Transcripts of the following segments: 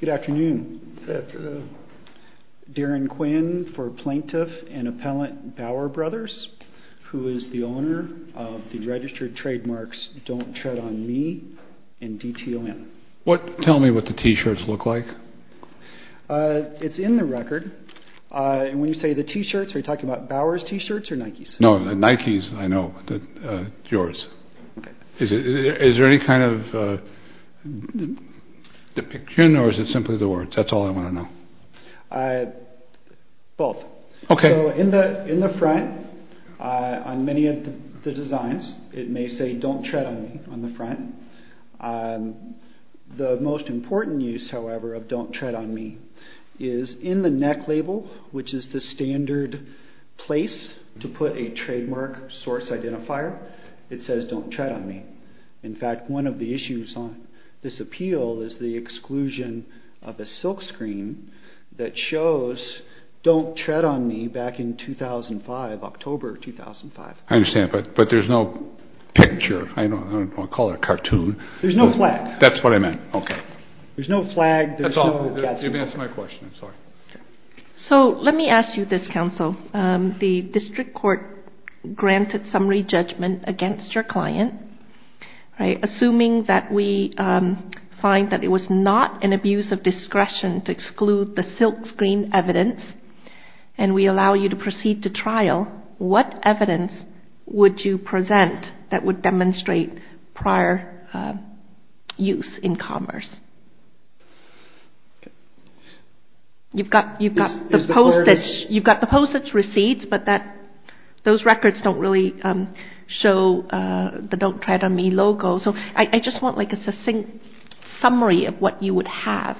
Good afternoon. Darren Quinn for Plaintiff and Appellant Bauer Bros., who is the owner of the registered trademarks Don't Tread on Me and DTOM. Tell me what the T-shirts look like. It's in the record. When you say the T-shirts, are you talking about Bauer's T-shirts or Nike's? No, Nike's, I know. Yours. Is there any kind of depiction or is it simply the words? That's all I want to know. Both. So in the front, on many of the designs, it may say Don't Tread on Me on the front. The most important use, however, of Don't Tread on Me is in the neck label, which is the standard place to put a trademark source identifier. It says Don't Tread on Me. In fact, one of the issues on this appeal is the exclusion of a silkscreen that shows Don't Tread on Me back in 2005, October 2005. I understand, but there's no picture. I don't want to call it a cartoon. There's no flag. That's what I meant. Okay. There's no flag. That's all. You've answered my question. I'm sorry. So let me ask you this, Counsel. The district court granted summary judgment against your client. Assuming that we find that it was not an abuse of discretion to exclude the silkscreen evidence and we allow you to proceed to trial, what evidence would you present that would demonstrate prior use in commerce? You've got the postage receipts, but those records don't really show the Don't Tread on Me logo. So I just want like a succinct summary of what you would have.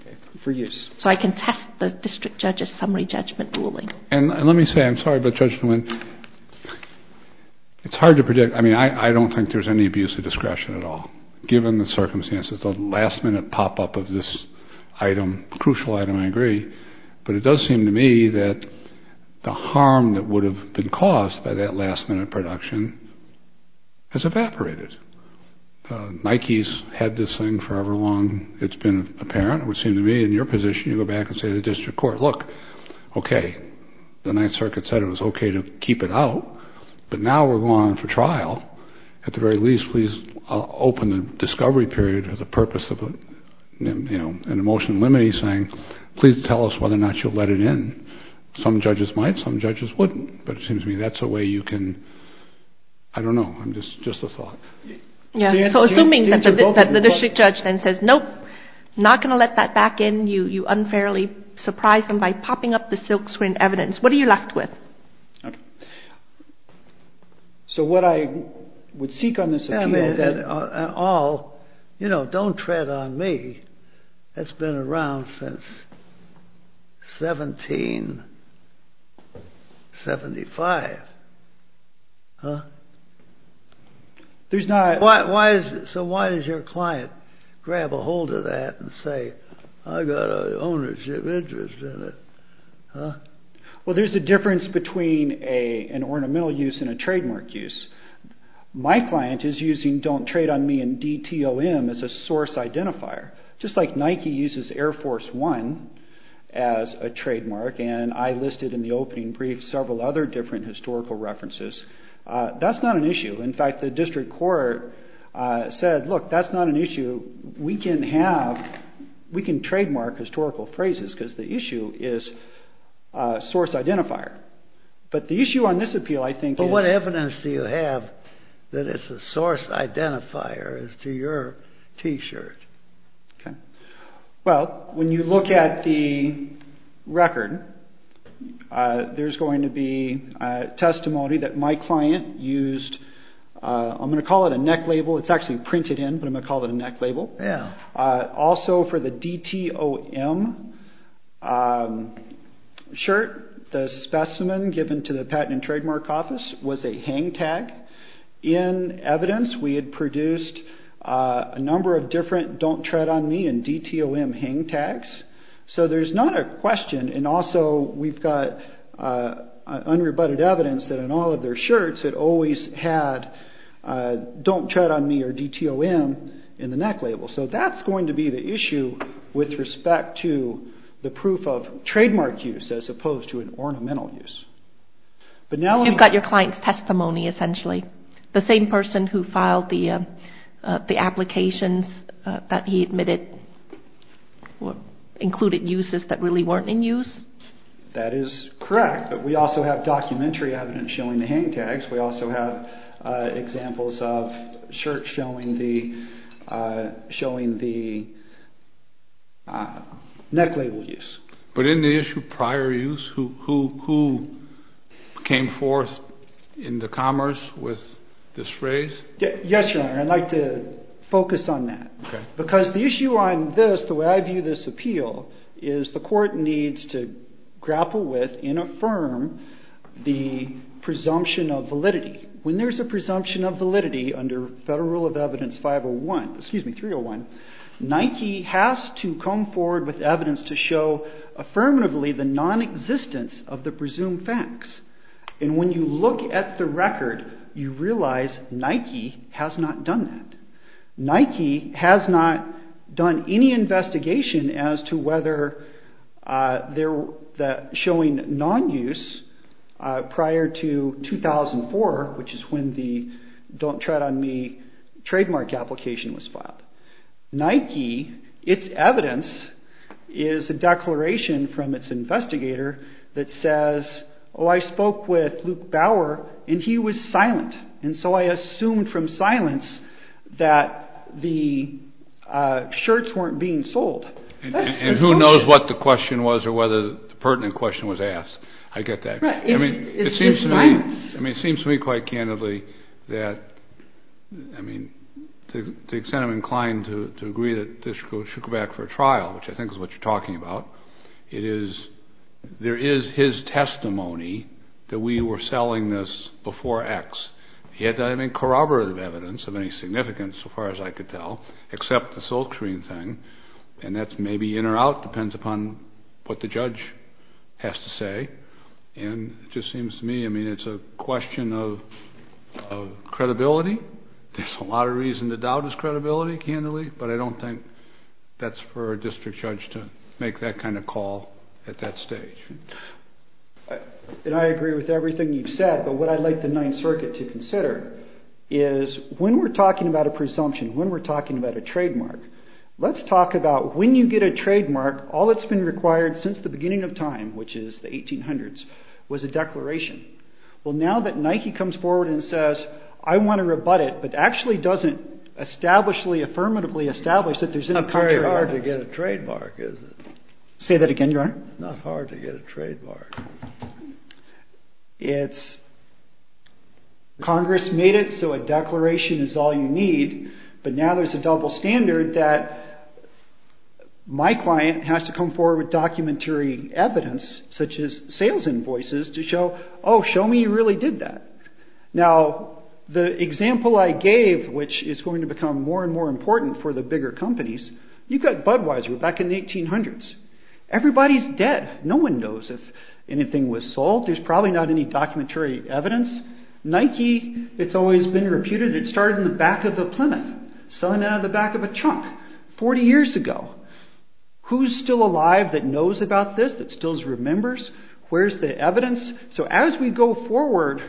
Okay. For use. So I can test the district judge's summary judgment ruling. And let me say, I'm sorry, but Judge Nguyen, it's hard to predict. I mean, I don't think there's any abuse of discretion at all. Given the circumstances, the last-minute pop-up of this item, crucial item, I agree. But it does seem to me that the harm that would have been caused by that last-minute production has evaporated. Nike's had this thing forever long. It's been apparent. It would seem to me, in your position, you go back and say to the district court, look, okay, the Ninth Circuit said it was okay to keep it out, but now we're going on for trial. At the very least, please open the discovery period as a purpose of an emotion limiting thing. Please tell us whether or not you'll let it in. Some judges might. Some judges wouldn't. But it seems to me that's a way you can, I don't know, just a thought. So assuming that the district judge then says, nope, not going to let that back in. You unfairly surprised them by popping up the silkscreen evidence. What are you left with? Okay. So what I would seek on this appeal. And all, you know, don't tread on me. That's been around since 1775. Huh? There's not. So why does your client grab a hold of that and say, I've got an ownership interest in it? Well, there's a difference between an ornamental use and a trademark use. My client is using don't trade on me and DTOM as a source identifier. Just like Nike uses Air Force One as a trademark, and I listed in the opening brief several other different historical references. That's not an issue. In fact, the district court said, look, that's not an issue. We can have, we can trademark historical phrases because the issue is source identifier. But the issue on this appeal, I think. But what evidence do you have that it's a source identifier as to your T-shirt? Okay. Well, when you look at the record, there's going to be testimony that my client used. I'm going to call it a neck label. It's actually printed in, but I'm going to call it a neck label. Also for the DTOM shirt, the specimen given to the Patent and Trademark Office was a hang tag. In evidence, we had produced a number of different don't trade on me and DTOM hang tags. So there's not a question. And also we've got unrebutted evidence that in all of their shirts it always had don't trade on me or DTOM in the neck label. So that's going to be the issue with respect to the proof of trademark use as opposed to an ornamental use. You've got your client's testimony, essentially. The same person who filed the applications that he admitted included uses that really weren't in use? That is correct. But we also have documentary evidence showing the hang tags. We also have examples of shirts showing the neck label use. But in the issue of prior use, who came forth in the commerce with this phrase? Yes, Your Honor. I'd like to focus on that. Because the issue on this, the way I view this appeal, is the court needs to grapple with and affirm the presumption of validity. When there's a presumption of validity under Federal Rule of Evidence 501, excuse me, 301, Nike has to come forward with evidence to show affirmatively the non-existence of the presumed facts. And when you look at the record, you realize Nike has not done that. Nike has not done any investigation as to whether they're showing non-use prior to 2004, which is when the Don't Tread on Me trademark application was filed. Nike, its evidence is a declaration from its investigator that says, oh, I spoke with Luke Bauer, and he was silent. And so I assumed from silence that the shirts weren't being sold. And who knows what the question was or whether the pertinent question was asked. I get that. It's just silence. I mean, it seems to me quite candidly that, I mean, to the extent I'm inclined to agree that this should go back for a trial, which I think is what you're talking about, it is, there is his testimony that we were selling this before X. He had no corroborative evidence of any significance, so far as I could tell, except the silkscreen thing. And that's maybe in or out, depends upon what the judge has to say. And it just seems to me, I mean, it's a question of credibility. There's a lot of reason to doubt his credibility, candidly, but I don't think that's for a district judge to make that kind of call at that stage. And I agree with everything you've said, but what I'd like the Ninth Circuit to consider is when we're talking about a presumption, when we're talking about a trademark, let's talk about when you get a trademark, all that's been required since the beginning of time, which is the 1800s, was a declaration. Well, now that Nike comes forward and says, I want to rebut it, but actually doesn't establishly, affirmatively establish that there's any country or artist. It's not very hard to get a trademark, is it? Say that again, Your Honor. It's not hard to get a trademark. It's Congress made it, so a declaration is all you need. But now there's a double standard that my client has to come forward with documentary evidence, such as sales invoices to show, oh, show me you really did that. Now, the example I gave, which is going to become more and more important for the bigger companies, you've got Budweiser back in the 1800s. Everybody's dead. No one knows if anything was sold. There's probably not any documentary evidence. Nike, it's always been reputed. It started in the back of the Plymouth, selling out of the back of a trunk 40 years ago. Who's still alive that knows about this, that still remembers? Where's the evidence? So as we go forward,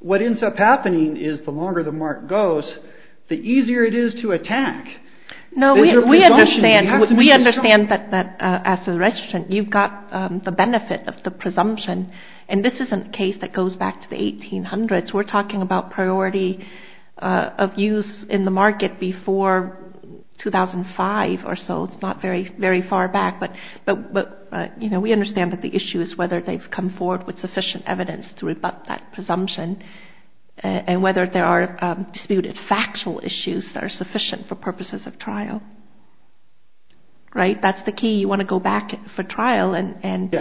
what ends up happening is the longer the mark goes, the easier it is to attack. No, we understand that as a resident, you've got the benefit of the presumption. And this isn't a case that goes back to the 1800s. We're talking about priority of use in the market before 2005 or so. It's not very far back. But we understand that the issue is whether they've come forward with sufficient evidence to rebut that presumption and whether there are disputed factual issues that are sufficient for purposes of trial. Right? That's the key. You want to go back for trial and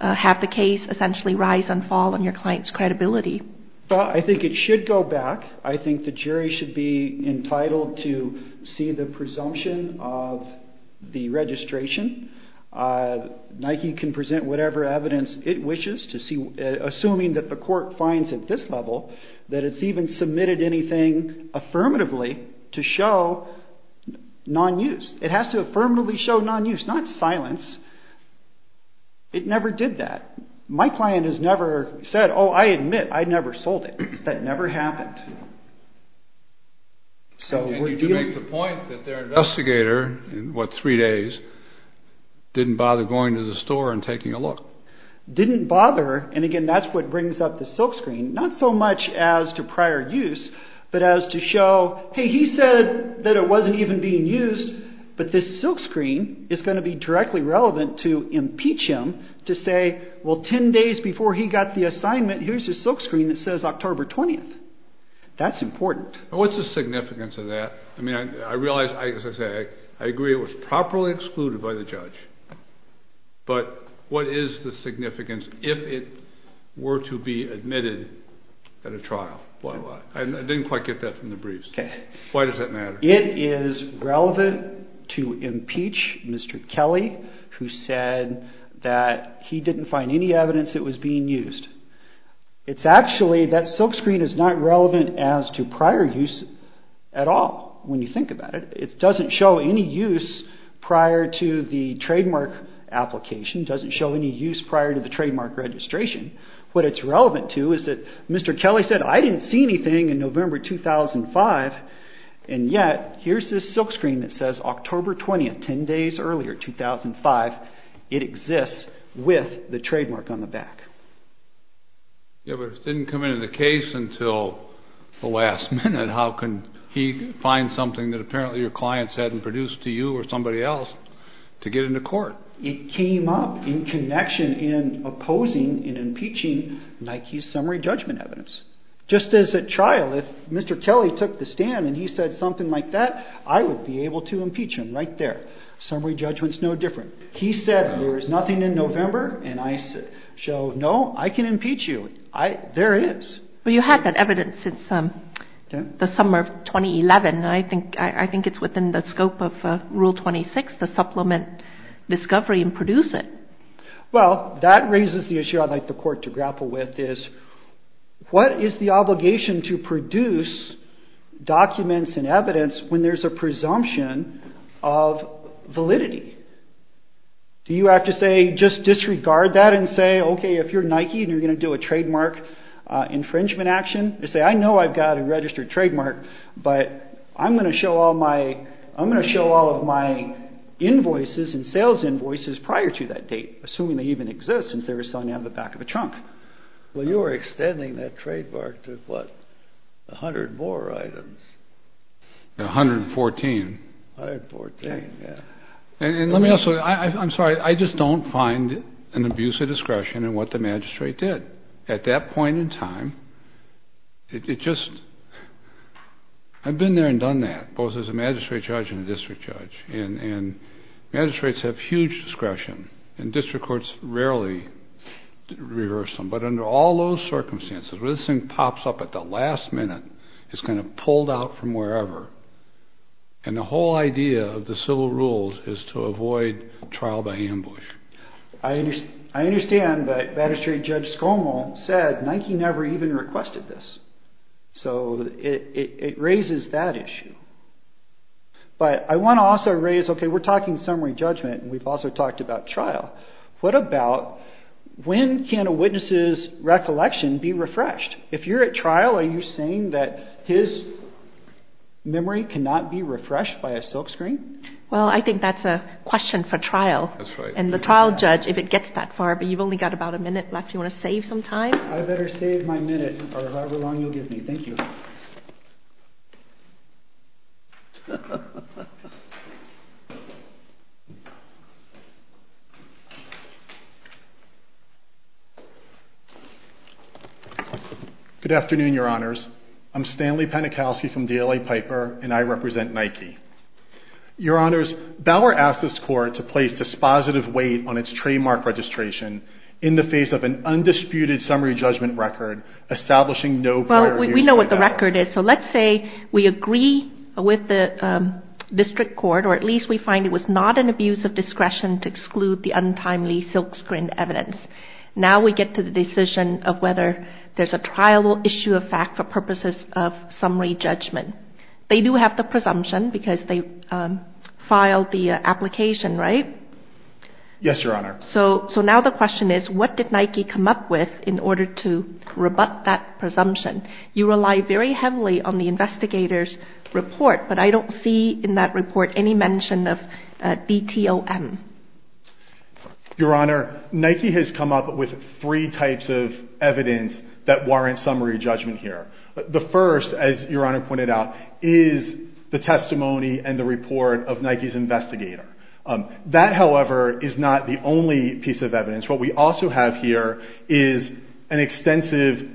have the case essentially rise and fall on your client's credibility. I think it should go back. I think the jury should be entitled to see the presumption of the registration. Nike can present whatever evidence it wishes, assuming that the court finds at this level that it's even submitted anything affirmatively to show non-use. It has to affirmatively show non-use, not silence. It never did that. My client has never said, oh, I admit, I never sold it. That never happened. And you do make the point that their investigator, in what, three days, didn't bother going to the store and taking a look. Didn't bother. And, again, that's what brings up the silkscreen. Not so much as to prior use, but as to show, hey, he said that it wasn't even being used, but this silkscreen is going to be directly relevant to impeach him to say, well, ten days before he got the assignment, here's a silkscreen that says October 20th. That's important. And what's the significance of that? I mean, I realize, as I say, I agree it was properly excluded by the judge. But what is the significance if it were to be admitted at a trial? I didn't quite get that from the briefs. Why does that matter? It is relevant to impeach Mr. Kelly, who said that he didn't find any evidence it was being used. It's actually, that silkscreen is not relevant as to prior use at all, when you think about it. It doesn't show any use prior to the trademark application. It doesn't show any use prior to the trademark registration. What it's relevant to is that Mr. Kelly said, I didn't see anything in November 2005, and yet here's this silkscreen that says October 20th, ten days earlier, 2005. It exists with the trademark on the back. Yeah, but if it didn't come into the case until the last minute, how can he find something that apparently your client said and produced to you or somebody else to get into court? It came up in connection in opposing and impeaching Nike's summary judgment evidence. Just as a trial, if Mr. Kelly took the stand and he said something like that, I would be able to impeach him right there. Summary judgment is no different. He said there is nothing in November, and I said, no, I can impeach you. There is. Well, you had that evidence since the summer of 2011. I think it's within the scope of Rule 26 to supplement discovery and produce it. Well, that raises the issue I'd like the court to grapple with is, what is the obligation to produce documents and evidence when there's a presumption of validity? Do you have to say, just disregard that and say, okay, if you're Nike and you're going to do a trademark infringement action, you say, I know I've got a registered trademark, but I'm going to show all of my invoices and sales invoices prior to that date, assuming they even exist since they were selling out of the back of a trunk. Well, you were extending that trademark to, what, 100 more items? 114. 114, yeah. And let me also, I'm sorry, I just don't find an abuse of discretion in what the magistrate did. At that point in time, it just, I've been there and done that, both as a magistrate judge and a district judge, and magistrates have huge discretion, and district courts rarely reverse them, but under all those circumstances, where this thing pops up at the last minute, it's kind of pulled out from wherever, and the whole idea of the civil rules is to avoid trial by ambush. I understand that Magistrate Judge Skolmo said Nike never even requested this, so it raises that issue. But I want to also raise, okay, we're talking summary judgment, and we've also talked about trial. What about when can a witness's recollection be refreshed? If you're at trial, are you saying that his memory cannot be refreshed by a silkscreen? Well, I think that's a question for trial. And the trial judge, if it gets that far, but you've only got about a minute left, do you want to save some time? I better save my minute, or however long you'll give me. Thank you. Good afternoon, Your Honors. I'm Stanley Penichowski from DLA Piper, and I represent Nike. Your Honors, Bauer asked this court to place dispositive weight on its trademark registration in the face of an undisputed summary judgment record establishing no prior years of identity. Well, we know what the record is. So let's say we agree with the district court, or at least we find it was not an abuse of discretion to exclude the untimely silkscreen evidence. Now we get to the decision of whether there's a trial issue of fact for purposes of summary judgment. They do have the presumption because they filed the application, right? Yes, Your Honor. So now the question is, what did Nike come up with in order to rebut that presumption? You rely very heavily on the investigator's report, but I don't see in that report any mention of DTOM. Your Honor, Nike has come up with three types of evidence that warrant summary judgment here. The first, as Your Honor pointed out, is the testimony and the report of Nike's investigator. That, however, is not the only piece of evidence. What we also have here is an extensive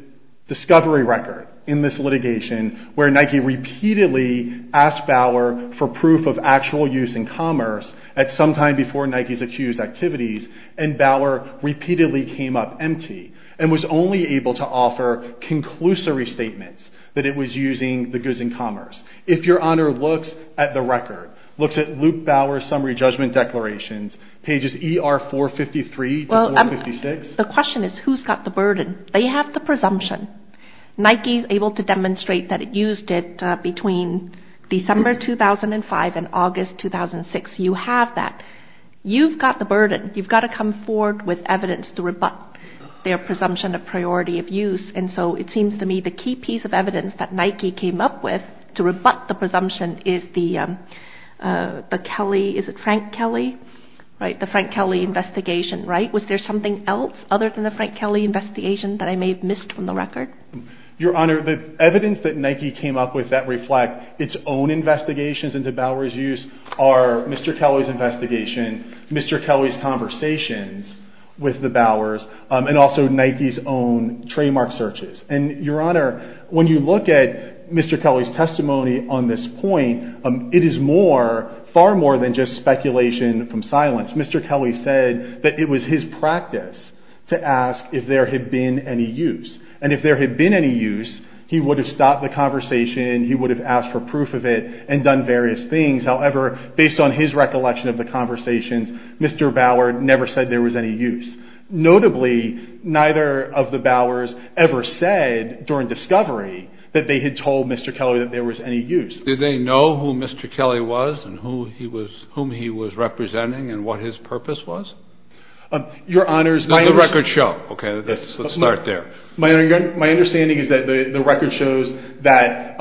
discovery record in this litigation where Nike repeatedly asked Bauer for proof of actual use in commerce at some time before Nike's accused activities, and Bauer repeatedly came up empty and was only able to offer conclusory statements that it was using the goods in commerce. If Your Honor looks at the record, looks at Luke Bauer's summary judgment declarations, pages ER 453 to 456. The question is, who's got the burden? They have the presumption. Nike is able to demonstrate that it used it between December 2005 and August 2006. You have that. You've got the burden. You've got to come forward with evidence to rebut their presumption of priority of use, and so it seems to me the key piece of evidence that Nike came up with to rebut the presumption is the Kelly, is it Frank Kelly, right, the Frank Kelly investigation, right? Was there something else other than the Frank Kelly investigation that I may have missed from the record? Your Honor, the evidence that Nike came up with that reflect its own investigations into Bauer's use are Mr. Kelly's investigation, Mr. Kelly's conversations with the Bauers, and also Nike's own trademark searches. And Your Honor, when you look at Mr. Kelly's testimony on this point, it is far more than just speculation from silence. Mr. Kelly said that it was his practice to ask if there had been any use, and if there had been any use, he would have stopped the conversation, he would have asked for proof of it and done various things. However, based on his recollection of the conversations, Mr. Bauer never said there was any use. Notably, neither of the Bauers ever said during discovery that they had told Mr. Kelly that there was any use. Did they know who Mr. Kelly was and whom he was representing and what his purpose was? Your Honor, my understanding... The record show, okay, let's start there. My understanding is that the record shows that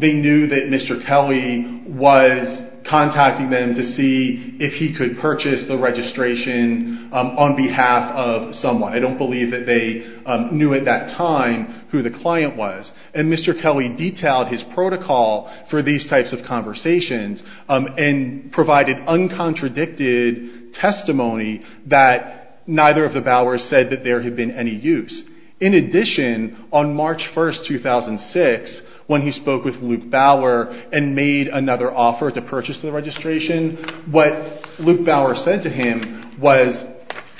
they knew that Mr. Kelly was contacting them to see if he could purchase the registration on behalf of someone. I don't believe that they knew at that time who the client was. And Mr. Kelly detailed his protocol for these types of conversations and provided uncontradicted testimony that neither of the Bauers said that there had been any use. In addition, on March 1, 2006, when he spoke with Luke Bauer and made another offer to purchase the registration, what Luke Bauer said to him was,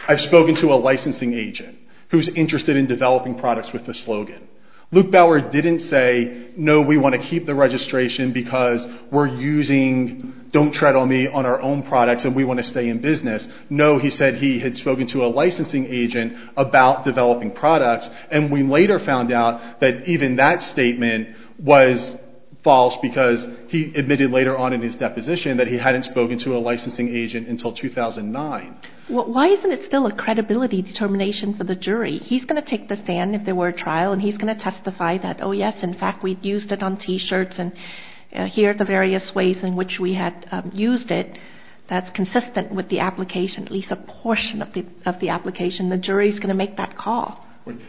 I've spoken to a licensing agent who's interested in developing products with the slogan. Luke Bauer didn't say, no, we want to keep the registration because we're using Don't Tread on Me on our own products and we want to stay in business. No, he said he had spoken to a licensing agent about developing products and we later found out that even that statement was false because he admitted later on in his deposition that he hadn't spoken to a licensing agent until 2009. Well, why isn't it still a credibility determination for the jury? He's going to take the stand if there were a trial and he's going to testify that, oh, yes, in fact, we've used it on T-shirts and here are the various ways in which we had used it. That's consistent with the application, at least a portion of the application. The jury's going to make that call.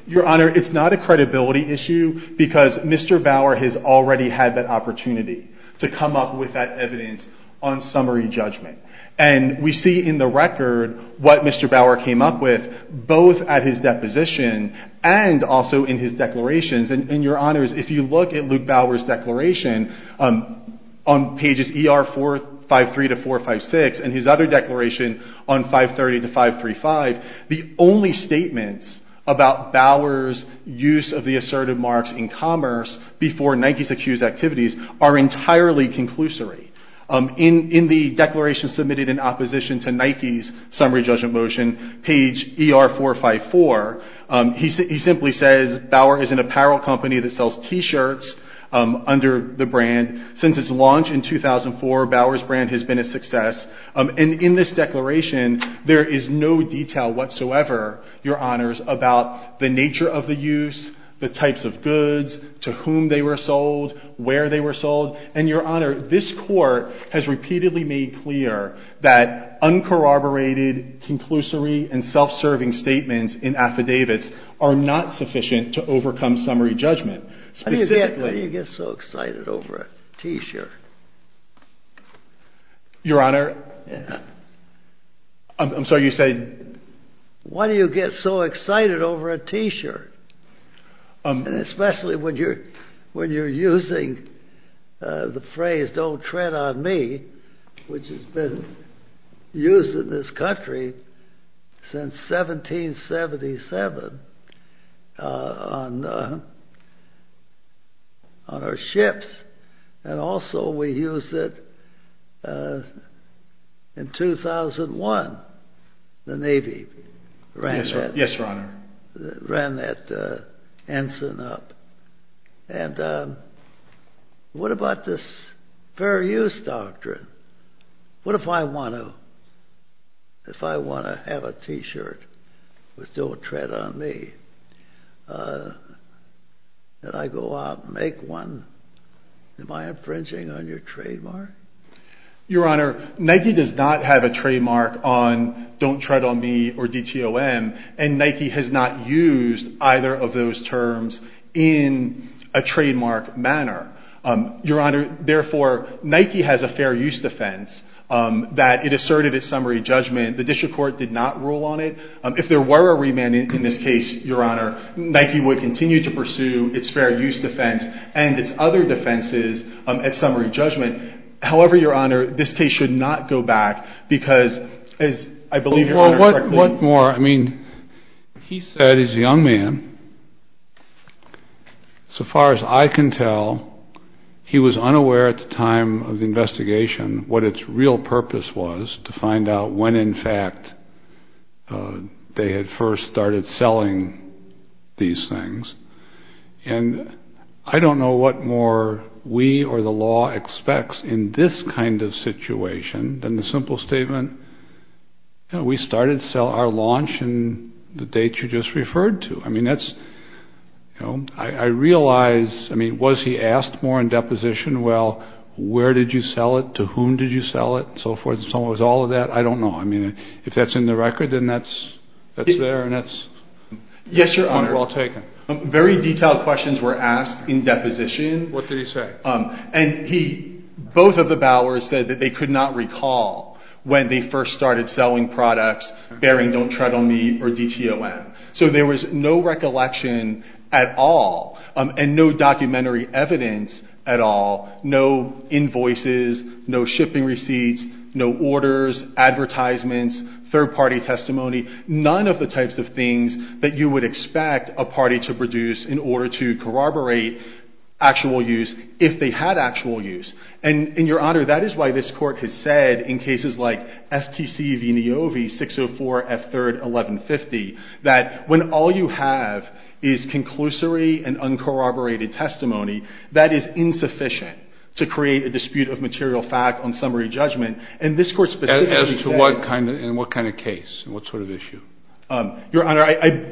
Your Honor, it's not a credibility issue because Mr. Bauer has already had that opportunity to come up with that evidence on summary judgment. And we see in the record what Mr. Bauer came up with both at his deposition and also in his declarations. And, Your Honors, if you look at Luke Bauer's declaration on pages ER 453 to 456 and his other declaration on 530 to 535, the only statements about Bauer's use of the assertive marks in commerce before Nike's accused activities are entirely conclusory. In the declaration submitted in opposition to Nike's summary judgment motion, page ER 454, he simply says Bauer is an apparel company that sells T-shirts under the brand. Since its launch in 2004, Bauer's brand has been a success. And in this declaration, there is no detail whatsoever, Your Honors, about the nature of the use, the types of goods, to whom they were sold, where they were sold. And, Your Honor, this Court has repeatedly made clear that uncorroborated, conclusory and self-serving statements in affidavits are not sufficient to overcome summary judgment. How do you get so excited over a T-shirt? Your Honor, I'm sorry, you say? Why do you get so excited over a T-shirt? And especially when you're using the phrase, don't tread on me, which has been used in this country since 1777 on our ships. And also we used it in 2001. The Navy ran that. Yes, Your Honor. Ran that ensign up. And what about this fair use doctrine? What if I want to have a T-shirt with don't tread on me? Did I go out and make one? Am I infringing on your trademark? Your Honor, Nike does not have a trademark on don't tread on me or DTOM, and Nike has not used either of those terms in a trademark manner. Your Honor, therefore, Nike has a fair use defense that it asserted at summary judgment. The district court did not rule on it. If there were a remand in this case, Your Honor, Nike would continue to pursue its fair use defense and its other defenses at summary judgment. However, Your Honor, this case should not go back because, as I believe Your Honor correctly said. What more? I mean, he said as a young man, so far as I can tell, he was unaware at the time of the investigation what its real purpose was to find out when, in fact, they had first started selling these things. And I don't know what more we or the law expects in this kind of situation than the simple statement, you know, we started to sell our launch in the date you just referred to. I mean, that's, you know, I realize, I mean, was he asked more in deposition? Well, where did you sell it? To whom did you sell it? And so forth and so on. It was all of that. I don't know. I mean, if that's in the record, then that's there and that's well taken. Yes, Your Honor. Very detailed questions were asked in deposition. What did he say? And he, both of the Bowers said that they could not recall when they first started selling products bearing Don't Tread on Me or DTOM. So there was no recollection at all and no documentary evidence at all, no invoices, no shipping receipts, no orders, advertisements, third-party testimony, none of the types of things that you would expect a party to produce in order to corroborate actual use if they had actual use. And, Your Honor, that is why this Court has said in cases like FTC v. Niovi 604 F3rd 1150 that when all you have is conclusory and uncorroborated testimony, that is insufficient to create a dispute of material fact on summary judgment. And this Court specifically said And what kind of case? What sort of issue? Your Honor,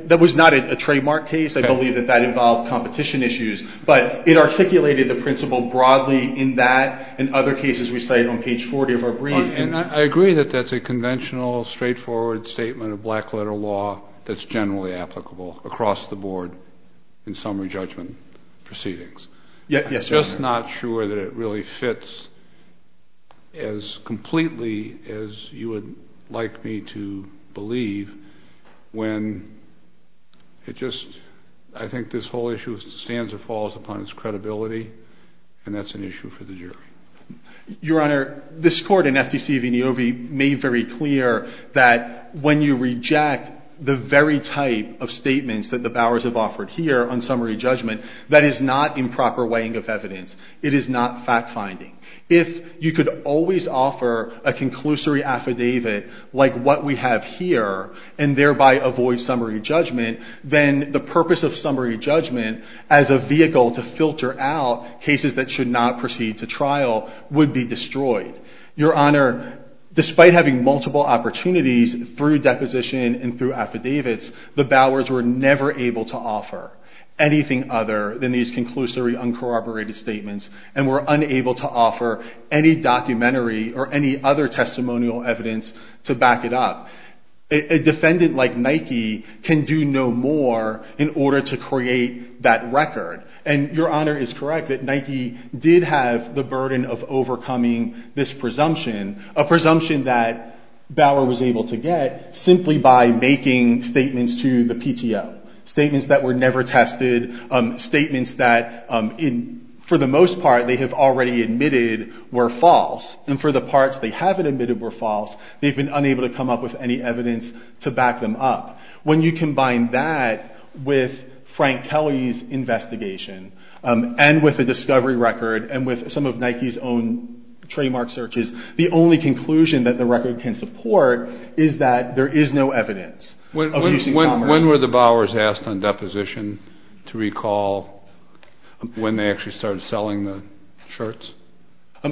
that was not a trademark case. I believe that that involved competition issues. But it articulated the principle broadly in that and other cases we cited on page 40 of our brief. And I agree that that's a conventional, straightforward statement of black-letter law that's generally applicable across the board in summary judgment proceedings. Yes, Your Honor. I'm just not sure that it really fits as completely as you would like me to believe when it just I think this whole issue stands or falls upon its credibility, and that's an issue for the jury. Your Honor, this Court in FTC v. Niovi made very clear that when you reject the very type of statements that the Bowers have offered here on summary judgment, that is not improper weighing of evidence. It is not fact-finding. If you could always offer a conclusory affidavit like what we have here and thereby avoid summary judgment, then the purpose of summary judgment as a vehicle to filter out cases that should not proceed to trial would be destroyed. Your Honor, despite having multiple opportunities through deposition and through affidavits, the Bowers were never able to offer anything other than these conclusory, uncorroborated statements and were unable to offer any documentary or any other testimonial evidence to back it up. A defendant like Nike can do no more in order to create that record. And Your Honor is correct that Nike did have the burden of overcoming this presumption, a presumption that Bower was able to get simply by making statements to the PTO, statements that were never tested, statements that for the most part they have already admitted were false. And for the parts they haven't admitted were false, they've been unable to come up with any evidence to back them up. When you combine that with Frank Kelly's investigation and with the discovery record and with some of Nike's own trademark searches, the only conclusion that the record can support is that there is no evidence of using commerce. When were the Bowers asked on deposition to recall when they actually started selling the shirts?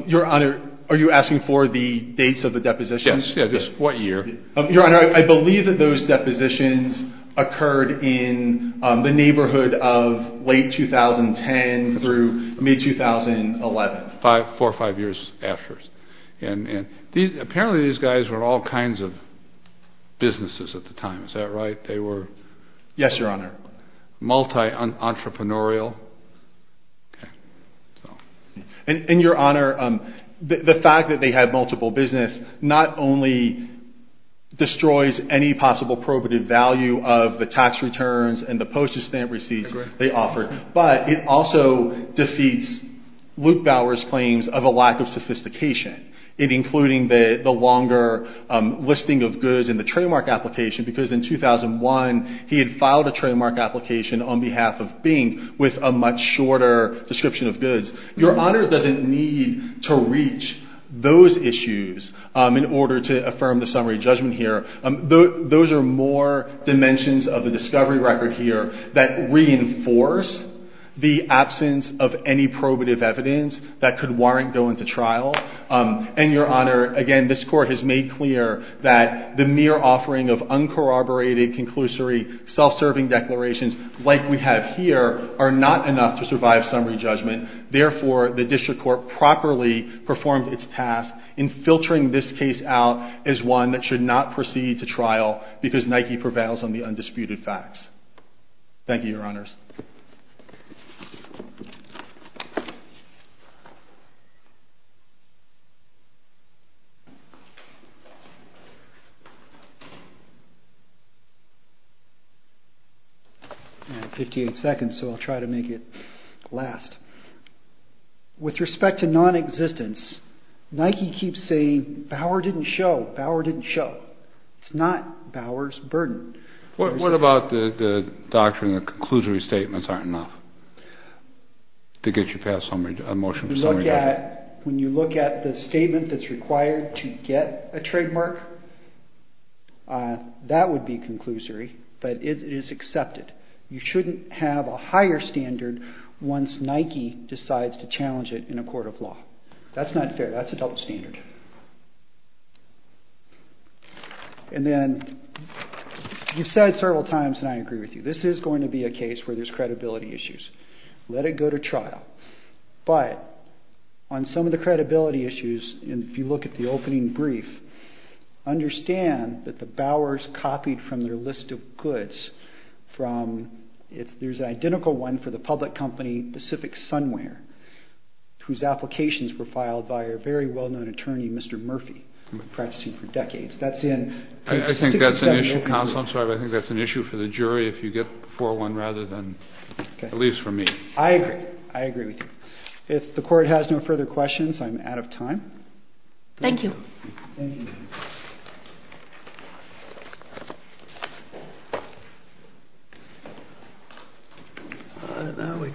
Your Honor, are you asking for the dates of the depositions? Yes, what year? Your Honor, I believe that those depositions occurred in the neighborhood of late 2010 through mid-2011. Four or five years after. Apparently these guys were all kinds of businesses at the time, is that right? Yes, Your Honor. They were multi-entrepreneurial. And Your Honor, the fact that they had multiple businesses not only destroys any possible probative value of the tax returns and the postage stamp receipts they offered, but it also defeats Luke Bowers' claims of a lack of sophistication, including the longer listing of goods in the trademark application, because in 2001 he had filed a trademark application on behalf of Bink with a much shorter description of goods. Your Honor doesn't need to reach those issues in order to affirm the summary judgment here. Those are more dimensions of the discovery record here that reinforce the absence of any probative evidence that could warrant going to trial. And Your Honor, again, this Court has made clear that the mere offering of uncorroborated, conclusory, self-serving declarations like we have here are not enough to survive summary judgment. Therefore, the District Court properly performed its task in filtering this case out as one that should not proceed to trial because Nike prevails on the undisputed facts. Thank you, Your Honors. I have 58 seconds, so I'll try to make it last. With respect to nonexistence, Nike keeps saying Bauer didn't show, Bauer didn't show. It's not Bauer's burden. What about the doctrine that conclusory statements aren't enough to get you past a motion for summary judgment? When you look at the statement that's required to get a trademark, that would be conclusory, but it is accepted. You shouldn't have a higher standard once Nike decides to challenge it in a court of law. That's not fair. That's a double standard. And then you've said several times, and I agree with you, this is going to be a case where there's credibility issues. Let it go to trial. But on some of the credibility issues, if you look at the opening brief, understand that the Bauers copied from their list of goods from, there's an identical one for the public company Pacific Sunwear, whose applications were filed by a very well-known attorney, Mr. Murphy, practicing for decades. I think that's an issue for the jury if you get 4-1 rather than, at least for me. I agree. I agree with you. If the court has no further questions, I'm out of time. Thank you.